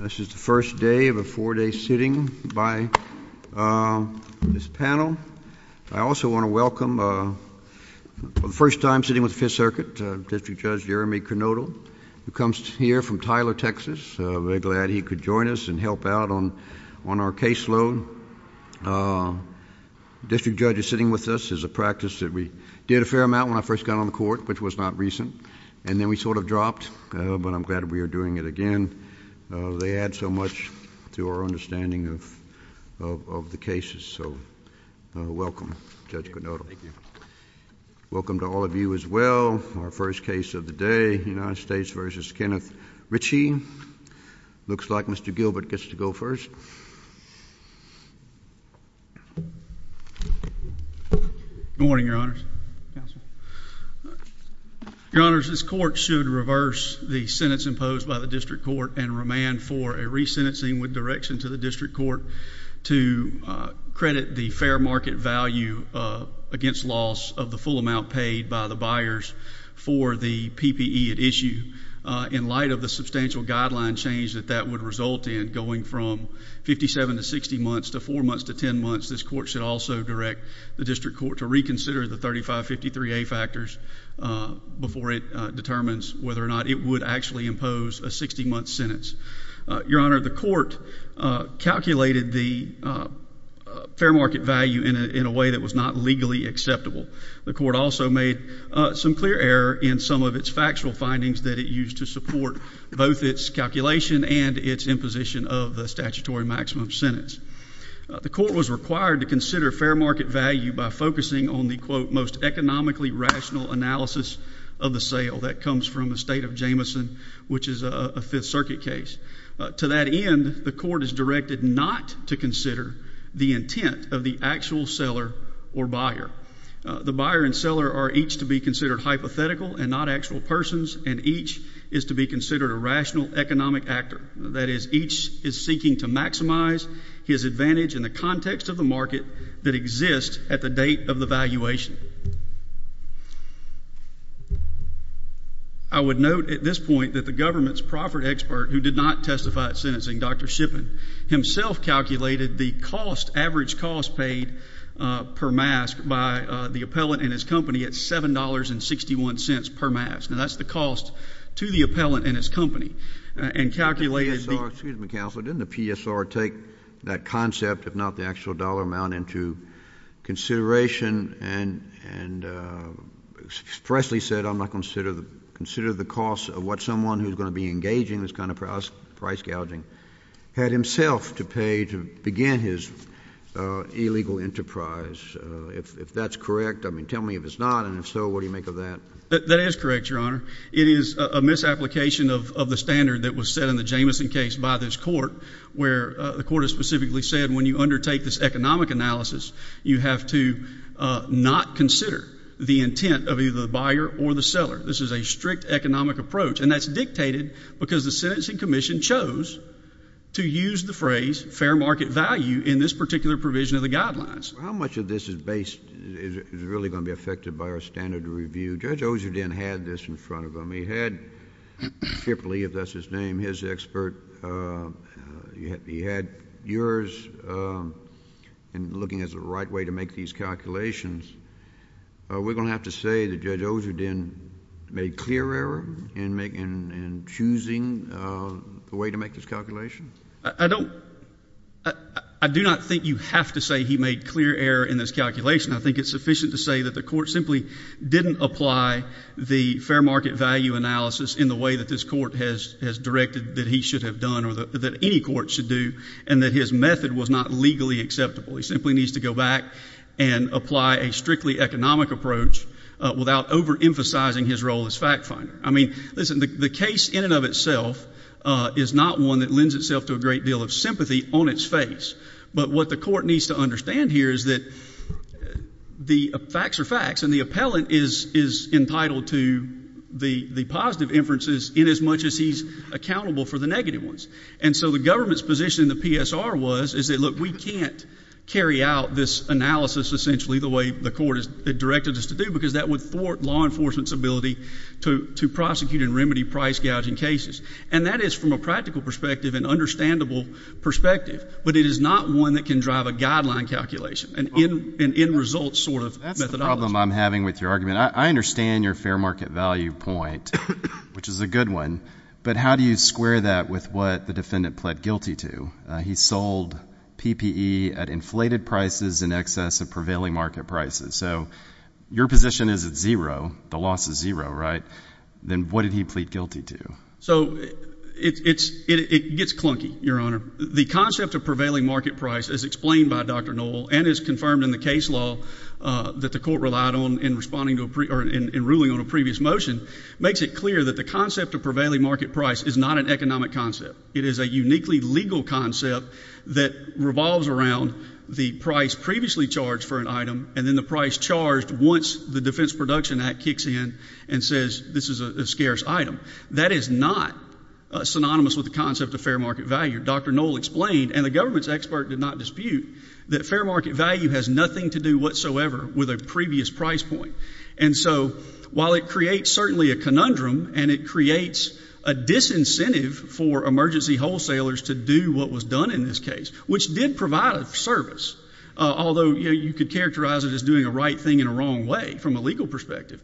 This is the first day of a four-day sitting by this panel. I also want to welcome, for the first time sitting with Fifth Circuit, District Judge Jeremy Canoto, who comes here from Tyler, Texas. Very glad he could join us and help out on on our caseload. District Judge is sitting with us as a practice that we did a fair amount when I first got on the court, which was not recent, and then we sort of dropped, but I'm glad we are doing it again. They add so much to our understanding of the cases, so welcome, Judge Canoto. Welcome to all of you as well. Our first case of the day, United States v. Kenneth Ritchey. Looks like Mr. This court should reverse the sentence imposed by the District Court and remand for a re-sentencing with direction to the District Court to credit the fair market value against loss of the full amount paid by the buyers for the PPE at issue. In light of the substantial guideline change that that would result in, going from 57 to 60 months to 4 months to 10 months, this court should also direct the District Court to reconsider the 3553A factors before it determines whether or not it would actually impose a 60-month sentence. Your Honor, the court calculated the fair market value in a way that was not legally acceptable. The court also made some clear error in some of its factual findings that it used to support both its calculation and its imposition of the statutory maximum sentence. The court was required to consider fair market value by focusing on the, quote, most economically rational analysis of the sale. That comes from the State of Jameson, which is a Fifth Circuit case. To that end, the court is directed not to consider the intent of the actual seller or buyer. The buyer and seller are each to be considered hypothetical and not actual persons, and each is to be considered a rational economic actor. That is, each is seeking to maximize his advantage in the context of the market that exists at the date of the valuation. I would note at this point that the government's proffered expert, who did not testify at sentencing, Dr. Shippen, himself calculated the cost, average cost paid per mask by the appellant and his company at $7.61 per mask. Now, that's the cost to the appellant and his company, and calculated the — JUSTICE KENNEDY. Excuse me, Counselor. Didn't the PSR take that concept, if not the actual dollar amount, into consideration and expressly said, I'm not going to consider the cost of what someone who's going to be engaging in this kind of price gouging had himself to pay to begin his illegal enterprise? If that's correct, I mean, tell me if it's not, and if so, what do you make of that? MR. SHIPPEN. That is correct, Your Honor. It is a misapplication of the standard that was set in the Jamison case by this Court, where the Court has specifically said when you undertake this economic analysis, you have to not consider the intent of either the buyer or the seller. This is a strict economic approach, and that's dictated because the sentencing commission chose to use the phrase, fair market value, in this particular provision of the guidelines. JUSTICE KENNEDY. How much of this is based — is really going to be affected by our standard of review? Judge Osherden had this in front of him. He had Shippley, if that's his name, his expert, he had yours, and looking at the right way to make these calculations, we're going to have to say that Judge Osherden made clear error in choosing the way to make this calculation? MR. SHIPPEN. I don't — I do not think you have to say he made clear error in this calculation. I think it's sufficient to say that the Court simply didn't apply the fair market value analysis in the way that this Court has directed that he should have done or that any Court should do, and that his method was not legally acceptable. He simply needs to go back and apply a strictly economic approach without overemphasizing his role as fact finder. I mean, listen, the case in and of itself is not one that lends itself to a great deal of sympathy on its face, but what the Court needs to understand here is that the facts are facts, and the appellant is entitled to the positive inferences inasmuch as he's accountable for the negative ones. And so the government's position in the PSR was, is that, look, we can't carry out this analysis essentially the way the Court has directed us to do because that would thwart law enforcement's ability to prosecute and remedy price-gouging cases. And that is, from a practical perspective, an understandable perspective, but it is not one that can drive a guideline calculation, an end-result sort of methodology. That's the problem I'm having with your argument. I understand your fair market value point, which is a good one, but how do you square that with what the defendant pled guilty to? He sold PPE at inflated prices in excess of prevailing market prices. So your position is at zero. The loss is zero, right? Then what did he plead guilty to? So it gets clunky, Your Honor. The concept of prevailing market price, as explained by Dr. Noel and as confirmed in the case law that the Court relied on in ruling on a previous motion, makes it clear that the concept of prevailing market price is not an economic concept. It is a uniquely legal concept that revolves around the price previously charged for an item and then the price charged once the Defense Production Act kicks in and says this is a scarce item. That is not synonymous with the concept of fair market value. Dr. Noel explained, and the government's expert did not dispute, that fair market value has nothing to do whatsoever with a previous price point. And so while it creates certainly a conundrum and it creates a disincentive for emergency wholesalers to do what was done in this case, which did provide a service, although you could characterize it as doing a right thing in a wrong way from a legal perspective,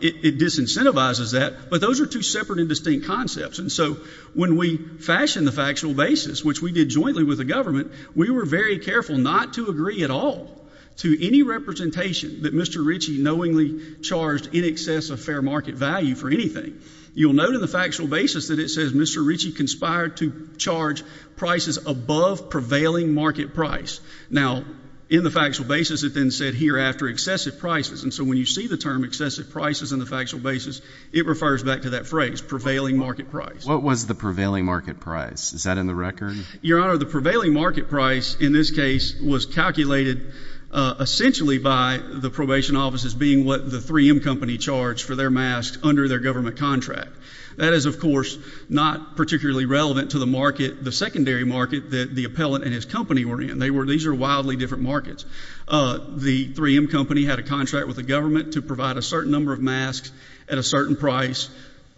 it disincentivizes that. But those are two separate and distinct concepts. And so when we fashion the factual basis, which we did jointly with the government, we were very careful not to agree at all to any representation that Mr. Ritchie knowingly charged in excess of fair market value for anything. You'll note in the factual basis that it says Mr. Ritchie conspired to charge prices above prevailing market price. Now, in the factual basis, it then said hereafter excessive prices. And so when you see the term excessive prices in the factual basis, it refers back to that phrase prevailing market price. What was the prevailing market price? Is that in the record? Your Honor, the prevailing market price in this case was calculated essentially by the probation offices being what the three M company charged for their masks under their government contract. That is, of course, not particularly relevant to the market, the secondary market that the appellant and his company were in. They were these air wildly different markets. The three M company had a contract with the government to provide a certain number of masks at a certain price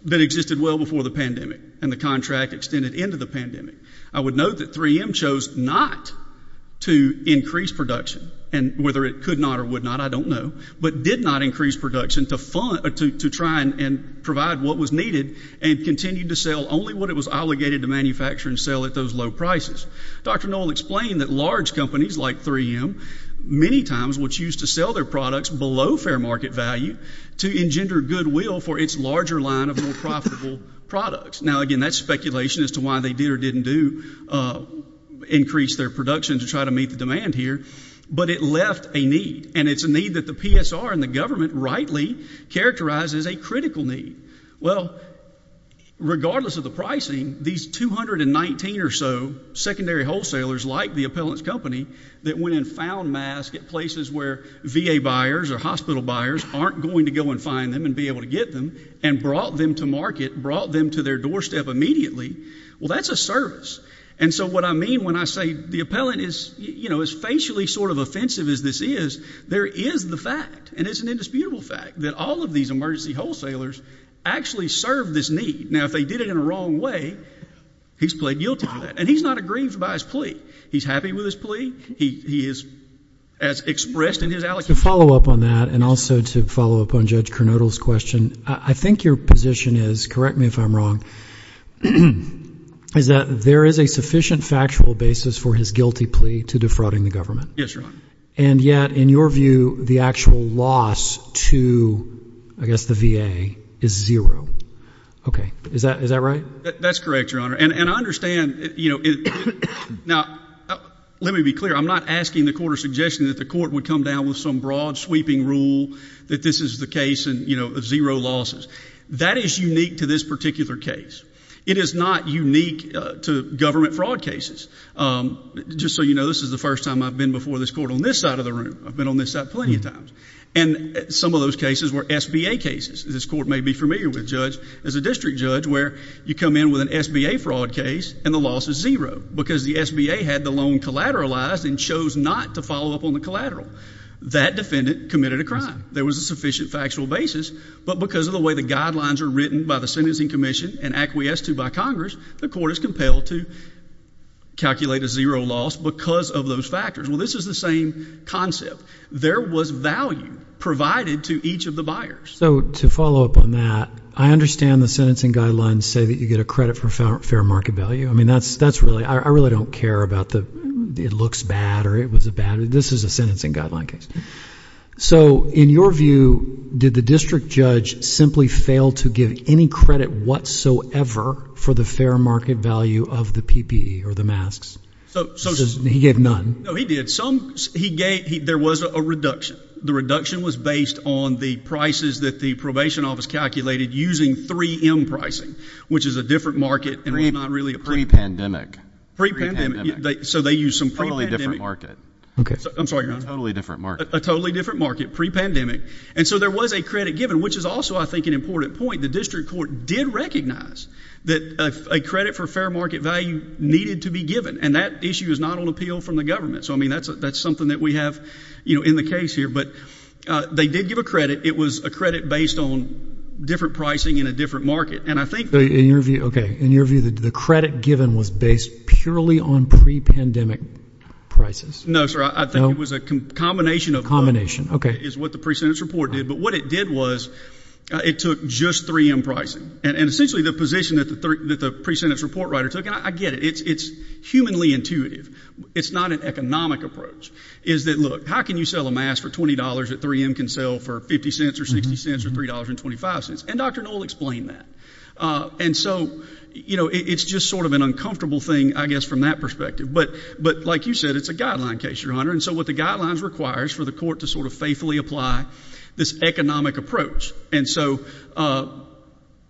that existed well before the pandemic and the contract extended into the pandemic. I would note that three M chose not to increase production and whether it could not or would not, I don't know, but did not increase production to fund to try and provide what was needed and continued to sell only what it was obligated to manufacture and sell at those low prices. Dr. Noel explained that large companies like three M many times would choose to sell their products below fair market value to engender goodwill for its larger line of more profitable products. Now again, that's speculation as to why they did or didn't do increase their production to try to meet the demand here, but it left a need and it's a need that the PSR and the regardless of the pricing, these 219 or so secondary wholesalers like the appellant's company that went and found mask at places where V. A. Buyers or hospital buyers aren't going to go and find them and be able to get them and brought them to market, brought them to their doorstep immediately. Well, that's a service. And so what I mean when I say the appellant is, you know, as facially sort of offensive as this is, there is the fact and it's an indisputable fact that all of these emergency wholesalers actually serve this need. Now, if they did it in a wrong way, he's played guilty for that and he's not aggrieved by his plea. He's happy with his plea. He is as expressed in his Alex to follow up on that and also to follow up on Judge Cronodel's question. I think your position is correct me if I'm wrong, is that there is a sufficient factual basis for his guilty plea to defrauding the government. Yes, your honor. And yet in your view, the actual loss to I guess the V. A. Is zero. Okay. Is that is that right? That's correct, your honor. And I understand, you know, now let me be clear. I'm not asking the quarter suggestion that the court would come down with some broad sweeping rule that this is the case and you know, zero losses that is unique to this particular case. It is not unique to government fraud cases. Um, just so you know, this is the first time I've been before this court on this side of the room. I've been on this side plenty of times. And some of those cases were S. B. A. Cases. This court may be familiar with judge as a district judge where you come in with an S. B. A. Fraud case and the loss is zero because the S. B. A. Had the loan collateralized and chose not to follow up on the collateral. That defendant committed a crime. There was a sufficient factual basis, but because of the way the guidelines are written by the Sentencing Commission and acquiesced to by Congress, the court is compelled to calculate a zero loss because of those factors. Well, this is the same concept. There was value provided to each of the buyers. So to follow up on that, I understand the sentencing guidelines say that you get a credit for fair market value. I mean, that's, that's really, I really don't care about the, it looks bad or it was a bad, this is a sentencing guideline case. So in your view, did the district judge simply fail to give any credit whatsoever for the fair market value of the PPE or the masks? So he gave none. No, he did some, he gave, there was a reduction. The reduction was based on the prices that the probation office calculated using three M pricing, which is a different market and not really a pre pandemic pre pandemic. So they use some probably different market. I'm sorry, you're on a totally different market, a totally different market pre pandemic. And so there was a credit given, which is also, I think, an important point. The district court did recognize that a credit for fair market value needed to be given. And that issue is not on appeal from the government. So I mean, that's, that's something that we have, you know, in the case here, but they did give a credit. It was a credit based on different pricing in a different market. And I think in your view, okay. In your view, the credit given was based purely on pre pandemic prices. No, sir. I think it was a combination of combination. Okay. Is what the precedent report did, but what it did was it took just three M pricing and essentially the position that the, that the pre sentence report writer took. And I get it. It's, it's humanly intuitive. It's not an economic approach is that, look, how can you sell a mass for $20 at three M can sell for 50 cents or 60 cents or $3 and 25 cents. And Dr. Noel explained that. Uh, and so, you know, it's just sort of an uncomfortable thing, I guess, from that perspective, but, but like you said, it's a guideline case, your honor. And so what the guidelines requires for the court to sort of faithfully apply this economic approach. And so, uh,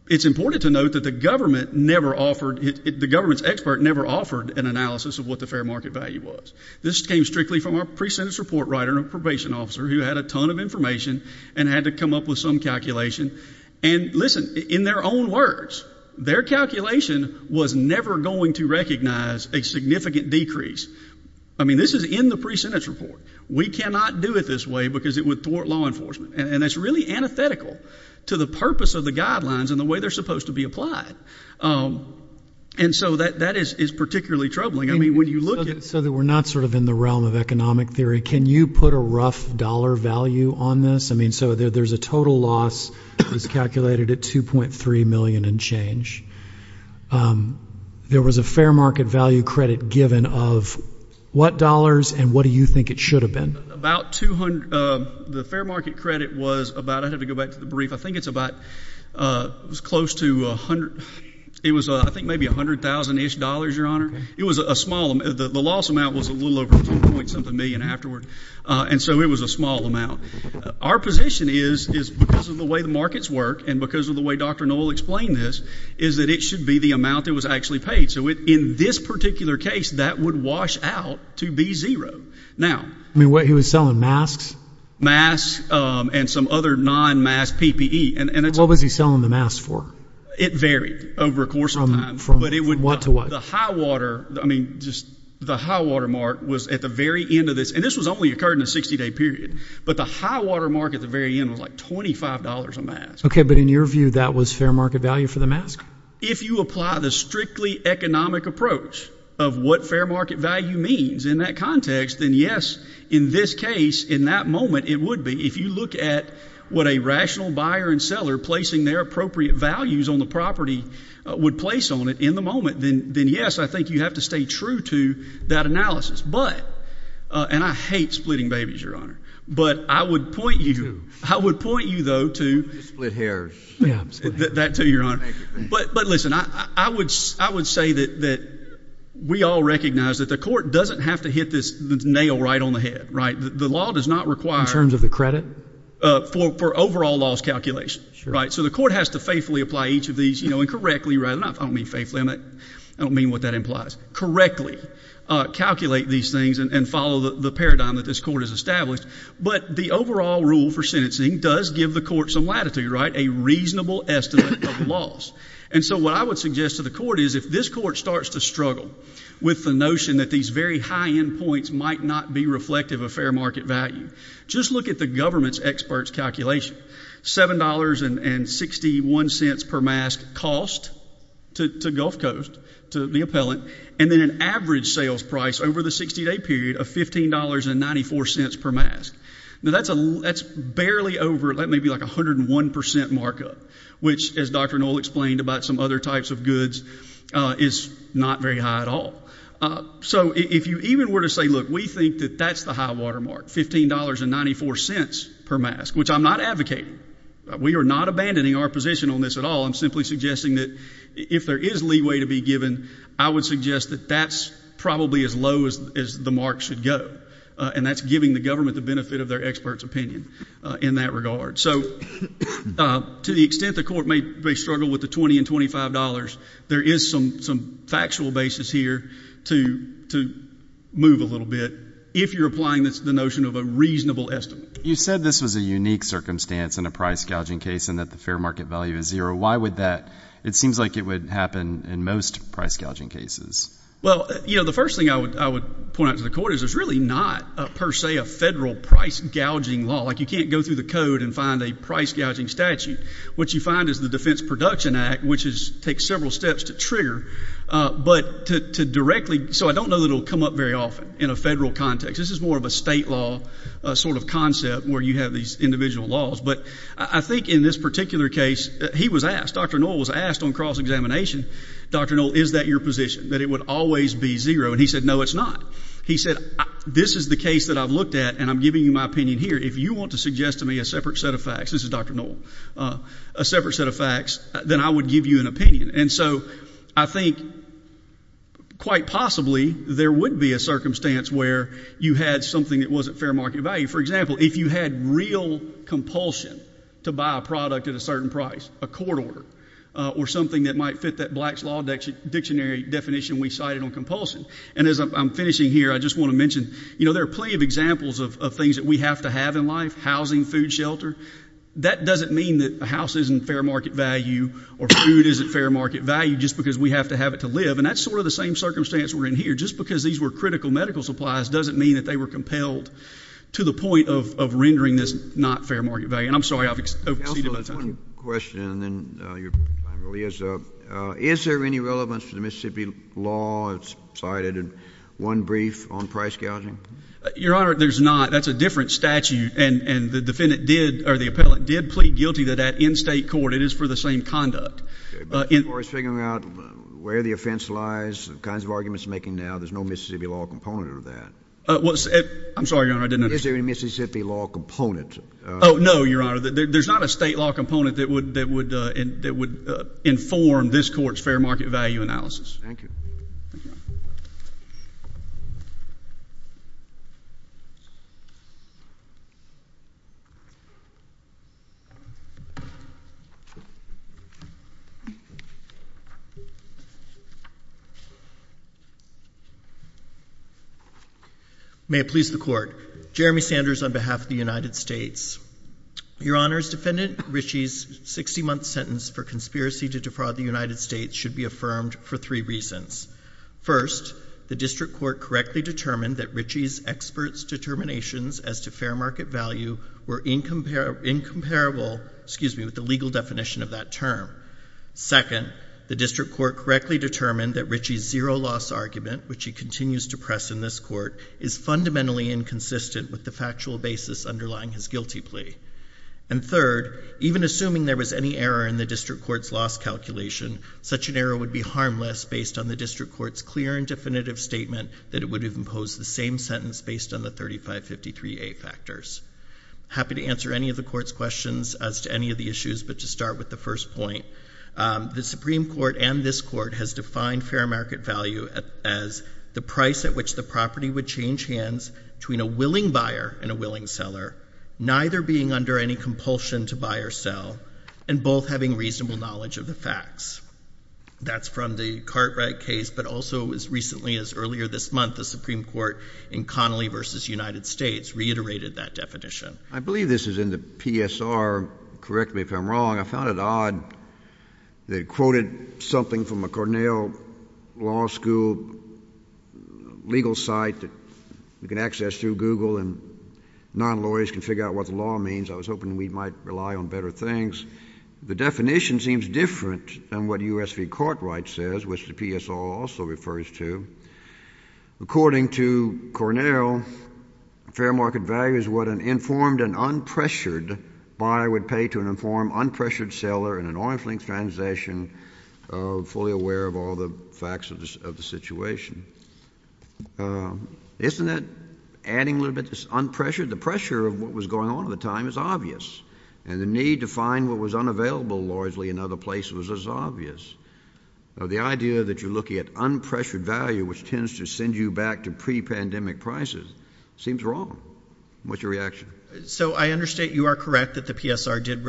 it's important to note that the government never offered it. The government's expert never offered an analysis of what the fair market value was. This came strictly from our precedent support writer and a probation officer who had a ton of information and had to come up with some calculation and listen in their own words, their calculation was never going to recognize a significant decrease. I mean, this is in the pre sentence report. We cannot do it this way because it would thwart law enforcement. And that's really antithetical to the purpose of the guidelines and the way they're supposed to be applied. Um, and so that that is, is particularly troubling. I mean, when you look at so that we're not sort of in the realm of economic theory, can you put a rough dollar value on this? I mean, so there, there's a total loss is calculated at 2.3 million and change. Um, there was a fair market value credit given of what dollars and what do you think it should have been about 200. Um, the fair market credit was about, I'd have to go back to the brief. I think it's about, uh, it was close to a hundred. It was, uh, I think maybe a hundred thousand ish dollars, your honor. It was a small, the loss amount was a little over point something million afterward. Uh, and so it was a small amount. Our position is, is because of the way the markets work and because of the way Dr. Noel explained this is that it should be the amount that was actually paid. So in this particular case that would wash out to zero. Now, I mean what he was selling masks, masks, um, and some other non mass PPE. And what was he selling the mass for? It varied over a course of time, but it would want to what the high water. I mean, just the high water mark was at the very end of this. And this was only occurred in a 60 day period, but the high water market, the very end was like $25 a mask. Okay. But in your view, that was fair market value for the mask. If you apply the strictly economic approach of what fair market value means in that context, then yes, in this case, in that moment, it would be, if you look at what a rational buyer and seller placing their appropriate values on the property would place on it in the moment, then, then yes, I think you have to stay true to that analysis. But, uh, and I hate splitting babies, your honor, but I would point you, I would point you though, to split hairs that to your honor. But, but listen, I would, I would say that, that we all recognize that the court doesn't have to hit this nail right on the head, right? The law does not require in terms of the credit, uh, for, for overall laws calculation, right? So the court has to faithfully apply each of these, you know, and correctly, rather not only faith limit, I don't mean what that implies correctly, uh, calculate these things and follow the paradigm that this court has established. But the overall rule for sentencing does give the court some latitude, right? A reasonable estimate of loss. And so what I would suggest to the court is if this court starts to struggle with the notion that these very high end points might not be reflective of fair market value, just look at the government's experts calculation, $7 and 61 cents per mask cost to, to Gulf coast, to the appellant. And then an average sales price over the 60 day period of $15 and 94 cents per mask. Now that's a, that's going to give you like 101% markup, which as Dr. Noel explained about some other types of goods, uh, is not very high at all. Uh, so if you even were to say, look, we think that that's the high watermark $15 and 94 cents per mask, which I'm not advocating. We are not abandoning our position on this at all. I'm simply suggesting that if there is leeway to be given, I would suggest that that's probably as low as, as the mark should go. Uh, and that's giving the government the benefit of their experts opinion in that regard. So, uh, to the extent the court may, may struggle with the 20 and $25, there is some, some factual basis here to, to move a little bit. If you're applying this, the notion of a reasonable estimate, you said this was a unique circumstance in a price gouging case and that the fair market value is zero. Why would that, it seems like it would happen in most price gouging cases. Well, you know, the first thing I would, I would point out to the court is there's really not a per se, a federal price gouging law. Like you can't go through the code and find a price gouging statute. What you find is the defense production act, which is take several steps to trigger, uh, but to, to directly. So I don't know that it'll come up very often in a federal context. This is more of a state law, a sort of concept where you have these individual laws. But I think in this particular case, he was asked, Dr. Noel was asked on cross examination, Dr. Noel, is that your position that it would always be zero? And he said, no, it's not. He said, this is the case that I've looked at and I'm giving you my opinion here. If you want to suggest to me a separate set of facts, this is Dr. Noel, uh, a separate set of facts, then I would give you an opinion. And so I think quite possibly there would be a circumstance where you had something that wasn't fair market value. For example, if you had real compulsion to buy a product at a certain price, a court order, uh, or something that might fit that blacks law dictionary definition we cited on compulsion. And as I'm finishing here, I just want to mention, you know, there are plenty of examples of things that we have to have in life, housing, food, shelter. That doesn't mean that a house isn't fair market value or food isn't fair market value just because we have to have it to live. And that's sort of the same circumstance we're in here. Just because these were critical medical supplies doesn't mean that they were compelled to the point of rendering this not fair market value. And I'm sorry, I've exceeded my time. One question and then your time really is up. Is there any relevance to the Mississippi law? It's cited in one brief on price gouging. Your Honor, there's not. That's a different statute. And the defendant did, or the appellate did plead guilty to that in state court. It is for the same conduct. Okay. But as far as figuring out where the offense lies, the kinds of arguments you're making now, there's no Mississippi law component of that. Well, I'm sorry, Your Honor, I didn't understand. Is there any Mississippi law component? Oh, no, Your Honor. There's not a state law component that would inform this court's fair market value analysis. Thank you. May it please the Court. Jeremy Sanders on behalf of the United States. Your Honor's defendant, Ritchie's 60-month sentence for conspiracy to defraud the United States should be affirmed for three reasons. First, the district court correctly determined that Ritchie's expert's determinations as to fair market value were incomparable with the legal definition of that term. Second, the district court correctly determined that Ritchie's zero-loss argument, which he continues to press in this court, is fundamentally inconsistent with the factual basis underlying his guilty plea. And third, even assuming there was any error in the district court's loss calculation, such an error would be harmless based on the district court's clear and definitive statement that it would have imposed the same sentence based on the 3553A factors. Happy to answer any of the court's questions as to any of the issues, but to start with the first point, the Supreme Court and this court has defined fair market value as the price at which the property would change hands between a willing buyer and a willing seller, neither being under any compulsion to buy or sell, and both having reasonable knowledge of the facts. That's from the Cartwright case, but also as recently as earlier this month, the Supreme Court in Connolly v. United States reiterated that definition. I believe this is in the PSR. Correct me if I'm wrong. I found it odd they quoted something from a Cornell Law School legal site that you can access through Google and non-lawyers can figure out what the law means. I was hoping we might rely on better things. The definition seems different than what U.S. v. Cartwright says, which the PSR also refers to. According to Cornell, fair market value is what an informed and unpressured buyer would pay to an informed, unpressured seller in an off-linked transaction fully aware of all the facts of the situation. Isn't that adding a little bit to unpressured? The pressure of what was going on at the time is obvious, and the need to find what was unavailable largely in other places was as obvious. The idea that you're looking at unpressured value, which tends to send you back to pre-pandemic prices, seems wrong. What's your reaction? I understand you are correct that the PSR did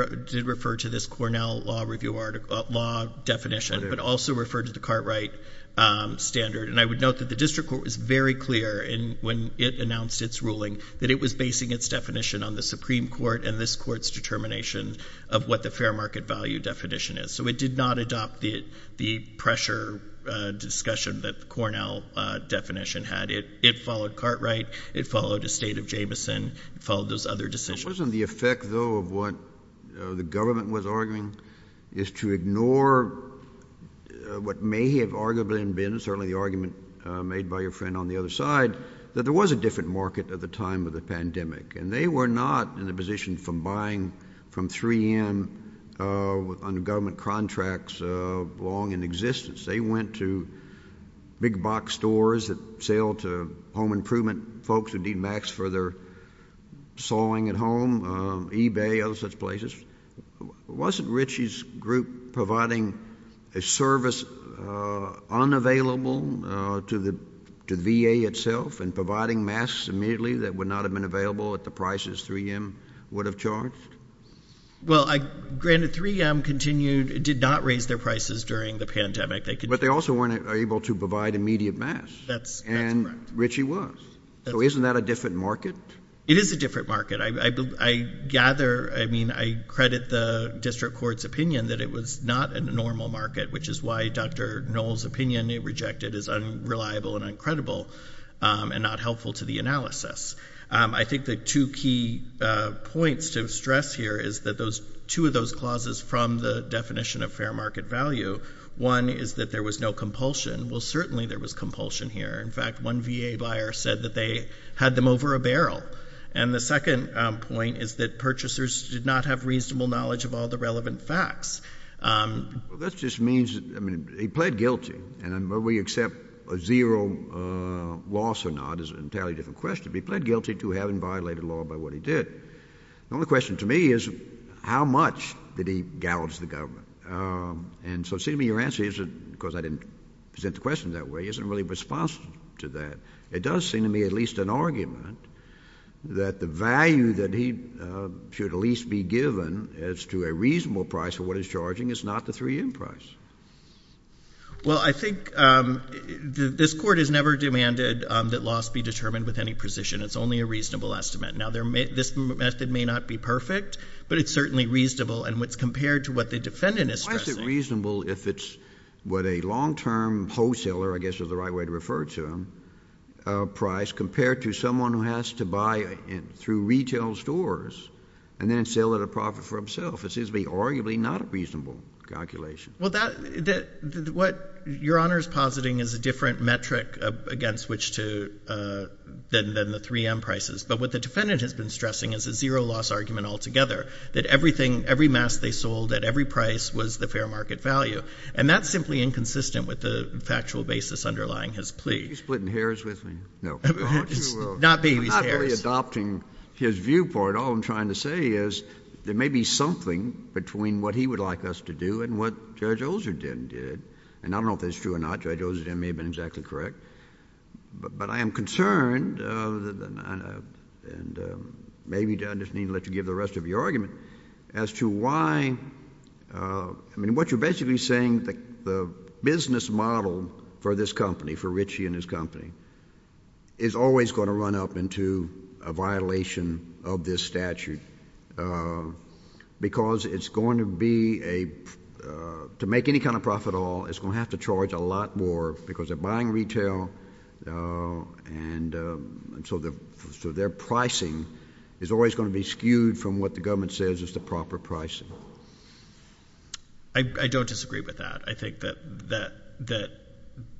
refer to this Cornell Law definition but also referred to the Cartwright standard. I would note that the district court was very clear when it announced its ruling that it was basing its definition on the Supreme Court and this Court's determination of what the fair market value definition is. It did not adopt the pressure discussion that the Cornell definition had. It followed Cartwright. It followed those other decisions. Wasn't the effect, though, of what the government was arguing is to ignore what may have arguably been, certainly the argument made by your friend on the other side, that there was a different market at the time of the pandemic. They were not in a position from buying from 3M under government contracts long in existence. They went to big box stores that sell to home products for their sawing at home, eBay, other such places. Wasn't Ritchie's group providing a service unavailable to the VA itself and providing masks immediately that would not have been available at the prices 3M would have charged? Well, granted, 3M did not raise their prices during the pandemic. But they also weren't able to provide immediate masks. That's correct. Ritchie was. So isn't that a different market? It is a different market. I gather, I mean, I credit the District Court's opinion that it was not a normal market, which is why Dr. Noll's opinion, it rejected, is unreliable and uncredible and not helpful to the analysis. I think the two key points to stress here is that those two of those clauses from the definition of fair market value, one is that there was no compulsion. Well, certainly there was compulsion here. In fact, one VA buyer said that they had them over a barrel. And the second point is that purchasers did not have reasonable knowledge of all the relevant facts. Well, that just means, I mean, he pled guilty. And whether we accept a zero loss or not is an entirely different question. But he pled guilty to having violated law by what he did. The only question to me is how much did he gouge the government? And so, Seema, your answer isn't, because I didn't present the question that way, isn't really responsive to that. It does seem to me at least an argument that the value that he should at least be given as to a reasonable price for what he's charging is not the 3M price. Well, I think this Court has never demanded that loss be determined with any precision. It's only a reasonable estimate. Now, this method may not be perfect, but it's certainly reasonable. And when it's compared to what the defendant is stressing— It's reasonable if it's what a long-term wholesaler, I guess is the right way to refer to him, price, compared to someone who has to buy through retail stores and then sell at a profit for himself. It seems to me arguably not a reasonable calculation. Well, that — what Your Honor is positing is a different metric against which to — than the 3M prices. But what the defendant has been stressing is a zero loss argument altogether, that everything — every mass they sold at every price was the fair market value. And that's simply inconsistent with the factual basis underlying his plea. Are you splitting hairs with me? No. It's not babies' hairs. I'm not really adopting his viewpoint. All I'm trying to say is there may be something between what he would like us to do and what Judge Olsherdin did. And I don't know if that's true or not. Judge Olsherdin may have been exactly correct. But I am concerned and maybe I just need to let you give the rest of your argument as to why — I mean, what you're basically saying, the business model for this company, for Richie and his company, is always going to run up into a violation of this statute because it's going to be a — to make any kind of profit at all, it's going to have to charge a lot more because they're buying retail. And so their pricing is always going to be skewed from what the government says is the proper pricing. I don't disagree with that. I think that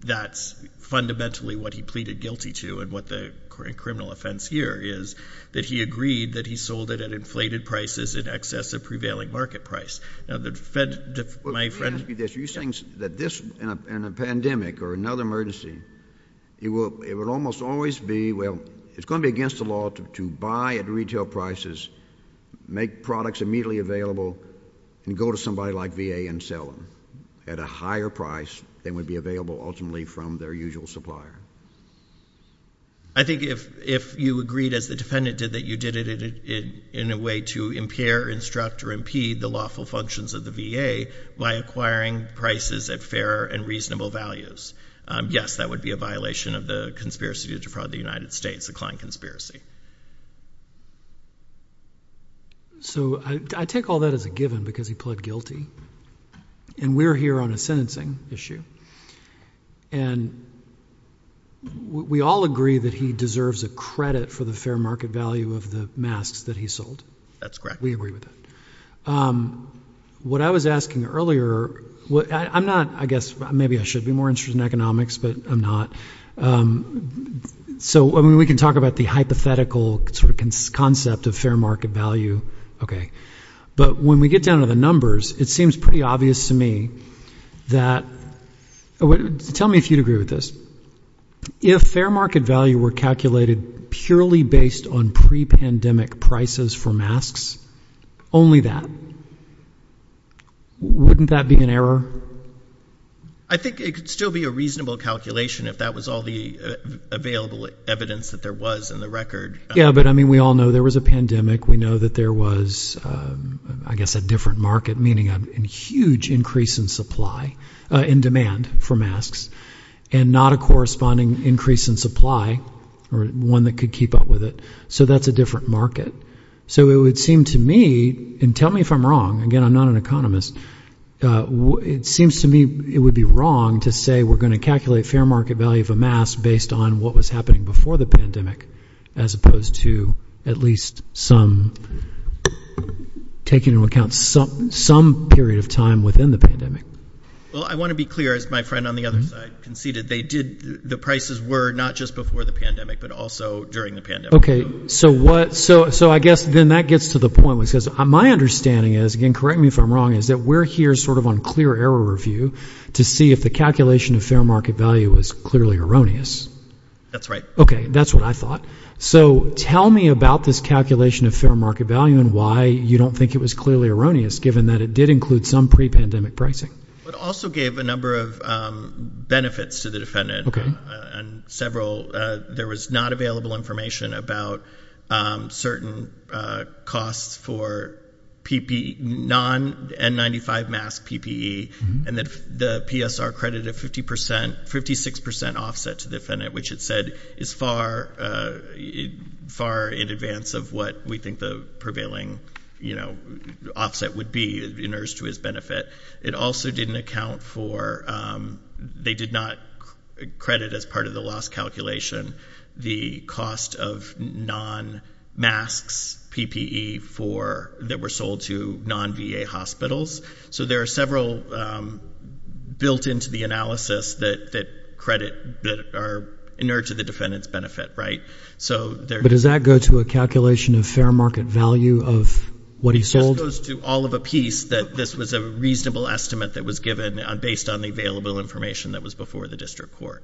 that's fundamentally what he pleaded guilty to and what the criminal offense here is, that he agreed that he sold it at inflated prices in excess of prevailing market price. Now, the Fed — Are you saying that this, in a pandemic or another emergency, it will almost always be — well, it's going to be against the law to buy at retail prices, make products immediately available and go to somebody like VA and sell them at a higher price than would be available ultimately from their usual supplier? I think if you agreed, as the defendant did, that you did it in a way to impair, instruct or impede the lawful functions of the VA by acquiring prices at fair and reasonable values, yes, that would be a violation of the conspiracy to defraud the United States, the Klein conspiracy. So I take all that as a given because he pled guilty. And we're here on a sentencing issue. And we all agree that he deserves a credit for the fair market value of the masks that he sold. That's correct. We agree with that. What I was asking earlier — I'm not — I guess maybe I should be more interested in economics, but I'm not. So I mean, we can talk about the hypothetical sort of concept of fair market value, OK. But when we get down to the numbers, it seems pretty obvious to me that — tell me if you'd agree with this. If fair market value were calculated purely based on pre-pandemic prices for masks, only that, wouldn't that be an error? I think it could still be a reasonable calculation if that was all the available evidence that there was in the record. Yeah, but I mean, we all know there was a pandemic. We know that there was, I guess, a different market, meaning a huge increase in supply — in demand for masks, and not a corresponding increase in supply or one that could keep up with it. So that's a different market. So it would seem to me — and tell me if I'm wrong, again, I'm not an economist — it seems to me it would be wrong to say we're going to calculate fair market value of a mask based on what was happening before the pandemic, as opposed to at least some taking into account some period of time within the pandemic. Well, I want to be clear, as my friend on the other side conceded, they did — the prices were not just before the pandemic, but also during the pandemic. Okay. So what — so I guess then that gets to the point, which is my understanding is — again, correct me if I'm wrong — is that we're here sort of on clear error review to see if the calculation of fair market value is clearly erroneous. That's right. Okay. That's what I thought. So tell me about this calculation of fair market value and why you don't think it was clearly erroneous, given that it did include some pre-pandemic pricing. It also gave a number of benefits to the defendant. Okay. And several — there was not available information about certain costs for non-N95 mask PPE, and the PSR credit of 50 percent — 56 percent offset to the defendant, which it said is far in advance of what we think the prevailing, you know, offset would be in urge to his benefit. It also didn't account for — they did not credit as part of the loss calculation the cost of non-masks PPE for — that were sold to non-VA hospitals. So there are several built into the analysis that credit — that are in urge to the defendant's benefit. So there — But does that go to a calculation of fair market value of what he sold? It just goes to all of a piece that this was a reasonable estimate that was given based on the available information that was before the district court.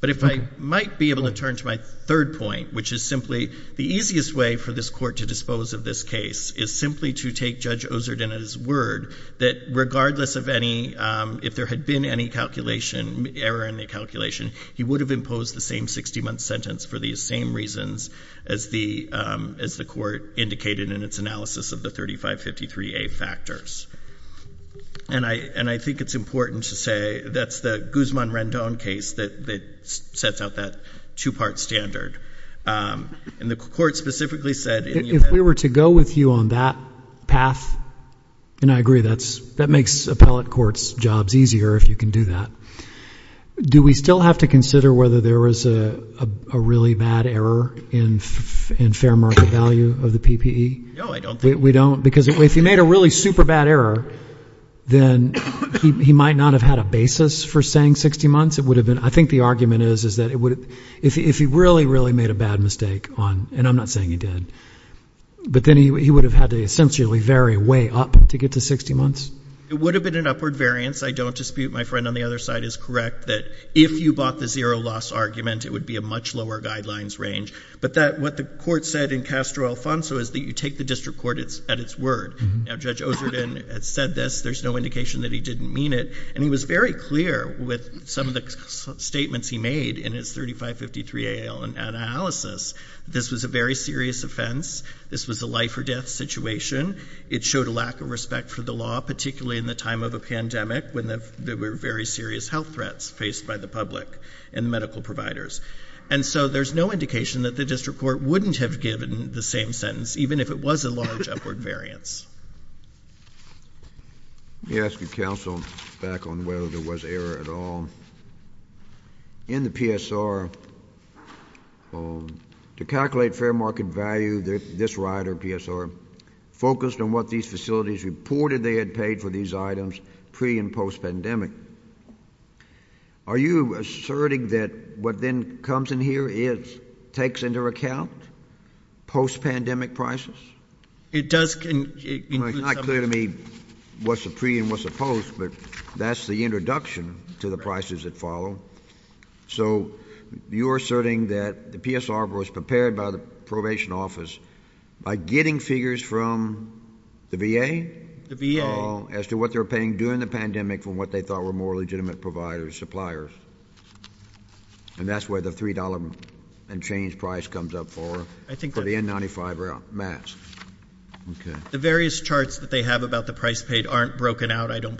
But if I might be able to turn to my third point, which is simply the easiest way for this court to dispose of this case is simply to take Judge Ozerden at his word that regardless of any — if there had been any calculation, error in the calculation, he would have imposed the same 60-month sentence for these same reasons as the — as the court indicated in its analysis of the 3553A factors. And I think it's important to say that's the Guzman-Rendon case that sets out that two-part standard. And the court specifically said — If we were to go with you on that path — and I agree, that makes appellate courts' jobs easier if you can do that. Do we still have to consider whether there was a really bad error in fair market value of the PPE? No, I don't think — We don't? Because if he made a really super bad error, then he might not have had a basis for saying 60 months. It would have been — I think the argument is, is that it would — if he really, really made a bad mistake on — and I'm not saying he did — but then he would have had to essentially vary way up to get to 60 months. It would have been an upward variance. I don't dispute — my friend on the other side is correct — that if you bought the zero-loss argument, it would be a much lower guidelines range. But that — what the court said in Castro-Alfonso is that you take the district court at its word. Now, Judge Ozerton had said this. There's no indication that he didn't mean it. And he was very clear with some of the statements he made in his 3553A analysis. This was a very serious offense. This was a life-or-death situation. It showed a lack of respect for the law, particularly in the time of a pandemic when there were very serious health threats faced by the public and medical providers. And so there's no indication that the district court wouldn't have given the same sentence, even if it was a large upward variance. Let me ask you, counsel, back on whether there was error at all. In the PSR, to calculate fair market value, this rioter, PSR, focused on what these facilities reported they had paid for these items pre- and post-pandemic. Are you asserting that what then comes in here is — takes into account post-pandemic prices? It does — It's not clear to me what's the pre- and what's the post, but that's the introduction to the prices that follow. So you're asserting that the PSR was prepared by the probation office by getting figures from the VA? The VA. As to what they were paying during the pandemic from what they thought were more legitimate providers, suppliers. And that's where the $3 and change price comes up for the N95 mask. The various charts that they have about the price paid aren't broken out, I don't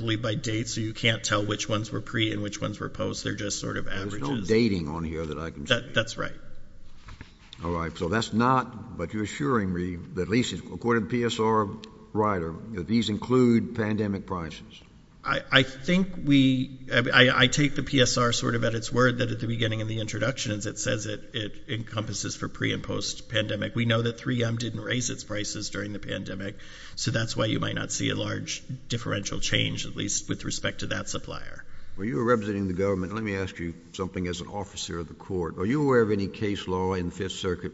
can't tell which ones were pre and which ones were post, they're just sort of averages. There's no dating on here that I can see. That's right. All right. So that's not — but you're assuring me, at least according to the PSR rioter, that these include pandemic prices? I think we — I take the PSR sort of at its word that at the beginning of the introduction it says it encompasses for pre- and post-pandemic. We know that 3M didn't raise its prices during the pandemic, so that's why you might not see a large differential change, at least with respect to that supplier. Well, you were representing the government. Let me ask you something as an officer of the court. Are you aware of any case law in the Fifth Circuit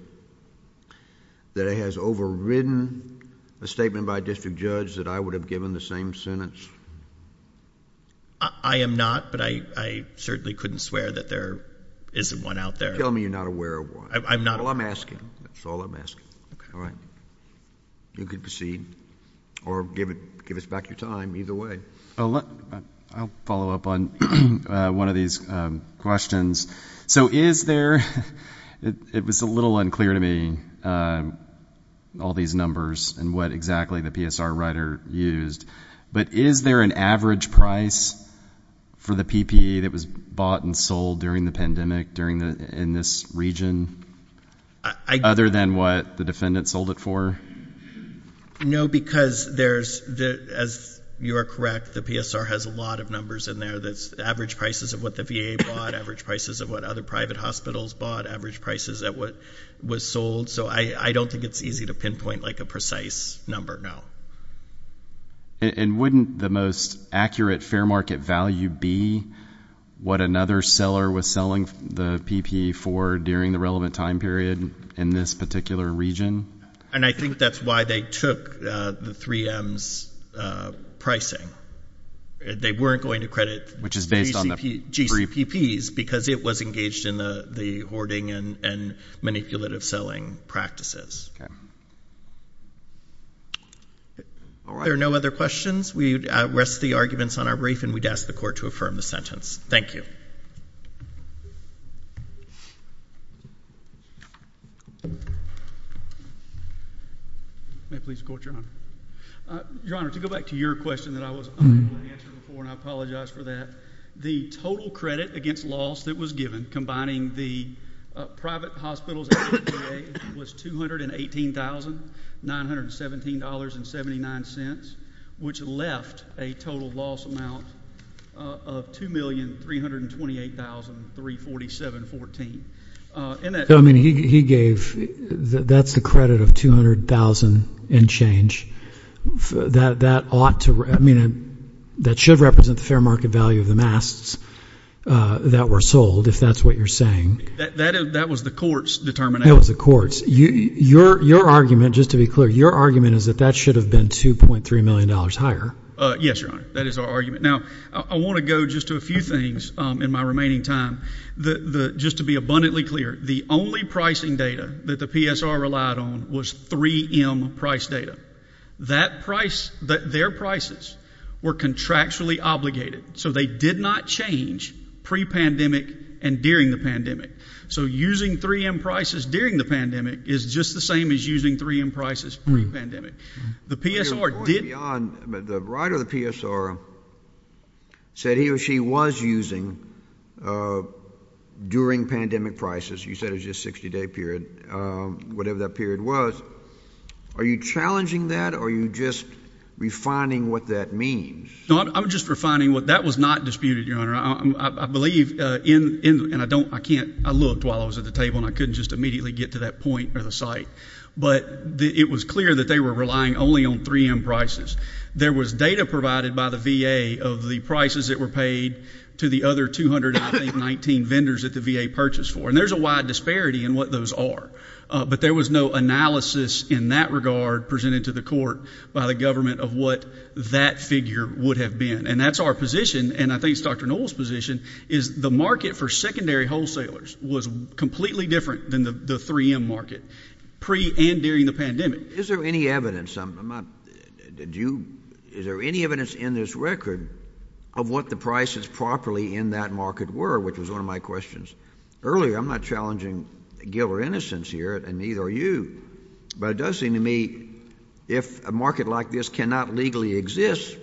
that has overridden a statement by a district judge that I would have given the same sentence? I am not, but I certainly couldn't swear that there isn't one out there. Tell me you're not aware of one. I'm not. Well, I'm asking. That's all I'm asking. Okay. All right. You can proceed or give us back your time, either way. I'll follow up on one of these questions. So is there — it was a little unclear to me, all these numbers and what exactly the PSR rioter used, but is there an average price for the PPE that was bought and sold during the pandemic in this region, other than what the defendant sold it for? No, because there's — as you are correct, the PSR has a lot of numbers in there that's average prices of what the VA bought, average prices of what other private hospitals bought, average prices at what was sold. So I don't think it's easy to pinpoint, like, a precise number, no. And wouldn't the most accurate fair market value be what another seller was selling the PPE for during the relevant time period in this particular region? And I think that's why they took the 3M's pricing. They weren't going to credit GCPPs, because it was engaged in the hoarding and manipulative selling practices. All right. There are no other questions. We rest the arguments on our brief, and we'd ask the Court to affirm the sentence. Thank you. May it please the Court, Your Honor. Your Honor, to go back to your question that I was unable to answer before, and I apologize for that, the total credit against loss that was given, combining the private hospitals and the VA, was $218,917.79, which left a total loss amount of $2,328,347.14. So, I mean, he gave, that's the credit of $200,000 and change. That ought to, I mean, that should represent the fair market value of the masks that were sold, if that's what you're saying. That was the Court's determination. That was the Court's. Your argument, just to be clear, your argument is that that should have been $2.3 million higher. Yes, Your Honor. That is our argument. Now, I want to go just to a few things in my remaining time. Just to be abundantly clear, the only pricing data that the PSR relied on was 3M price data. Their prices were contractually obligated, so they did not change pre-pandemic and during the pandemic. So, using 3M prices during the pandemic is just the same as using 3M prices pre-pandemic. The PSR did— Going beyond, the writer of the PSR said he or she was using, during pandemic prices, you said it was just 60-day period, whatever that period was. Are you challenging that or are you just refining what that means? No, I'm just refining what, that was not disputed, Your Honor. I believe in, and I don't, I can't, I looked while I was at the table and I couldn't just immediately get to that point or the site. But, it was clear that they were relying only on 3M prices. There was data provided by the VA of the prices that were paid to the other 219 vendors that the VA purchased for. And there's a wide disparity in what those are. But there was no analysis in that regard presented to the court by the government of what that figure would have been. And that's our position, and I think it's Dr. Noll's position, is the market for secondary wholesalers was completely different than the 3M market, pre and during the pandemic. Is there any evidence, I'm not, did you, is there any evidence in this record of what the prices properly in that market were, which was one of my questions earlier. I'm not challenging guilt or innocence here, and neither are you. But it does seem to me, if a market like this cannot legally exist,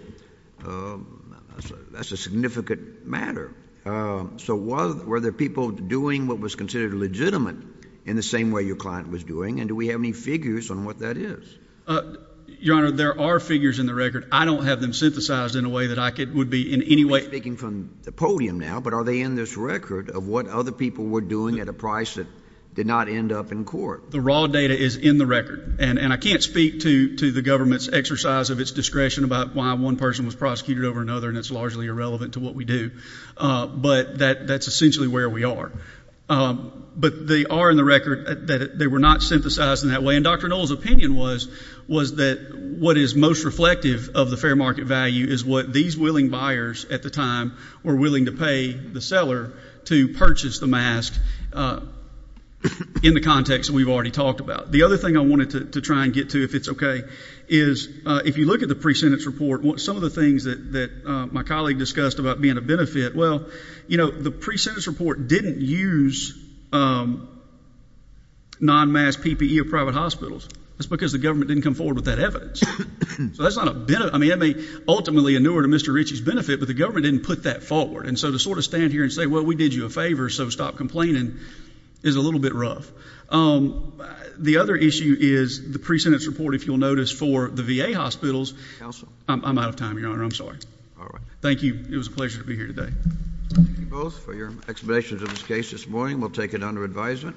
that's a significant matter. So, were there people doing what was considered legitimate in the same way your client was doing, and do we have any figures on what that is? Your Honor, there are figures in the record. I don't have them synthesized in a way that I could, would be in any way. You're speaking from the podium now, but are they in this record of what other people were doing at a price that did not end up in court? The raw data is in the record. And I can't speak to the government's exercise of its discretion about why one person was prosecuted over another, and it's largely irrelevant to what we do. But that's essentially where we are. But they are in the record that they were not synthesized in that way. And Dr. Noll's opinion was that what is most reflective of the fair market value is what these willing buyers at the time were willing to pay the seller to purchase the mask in the context that we've already talked about. The other thing I wanted to try and get to, if it's okay, is if you look at the pre-sentence report, some of the things that my colleague discussed about being a benefit, well, you know, the pre-sentence report didn't use non-mask PPE at private hospitals. That's because the government didn't come forward with that evidence. So, that's not a benefit. I mean, it may ultimately inure to Mr. Ritchie's benefit, but the government didn't put that forward. And so, to sort of stand here and say, well, we did you a favor, so stop complaining, is a little bit rough. The other issue is the pre-sentence report, if you'll notice, for the VA hospitals. Counsel? I'm out of time, Your Honor. I'm sorry. All right. Thank you. It was a pleasure to be here today. Thank you both for your explanations of this case this morning. We'll take it under advisement.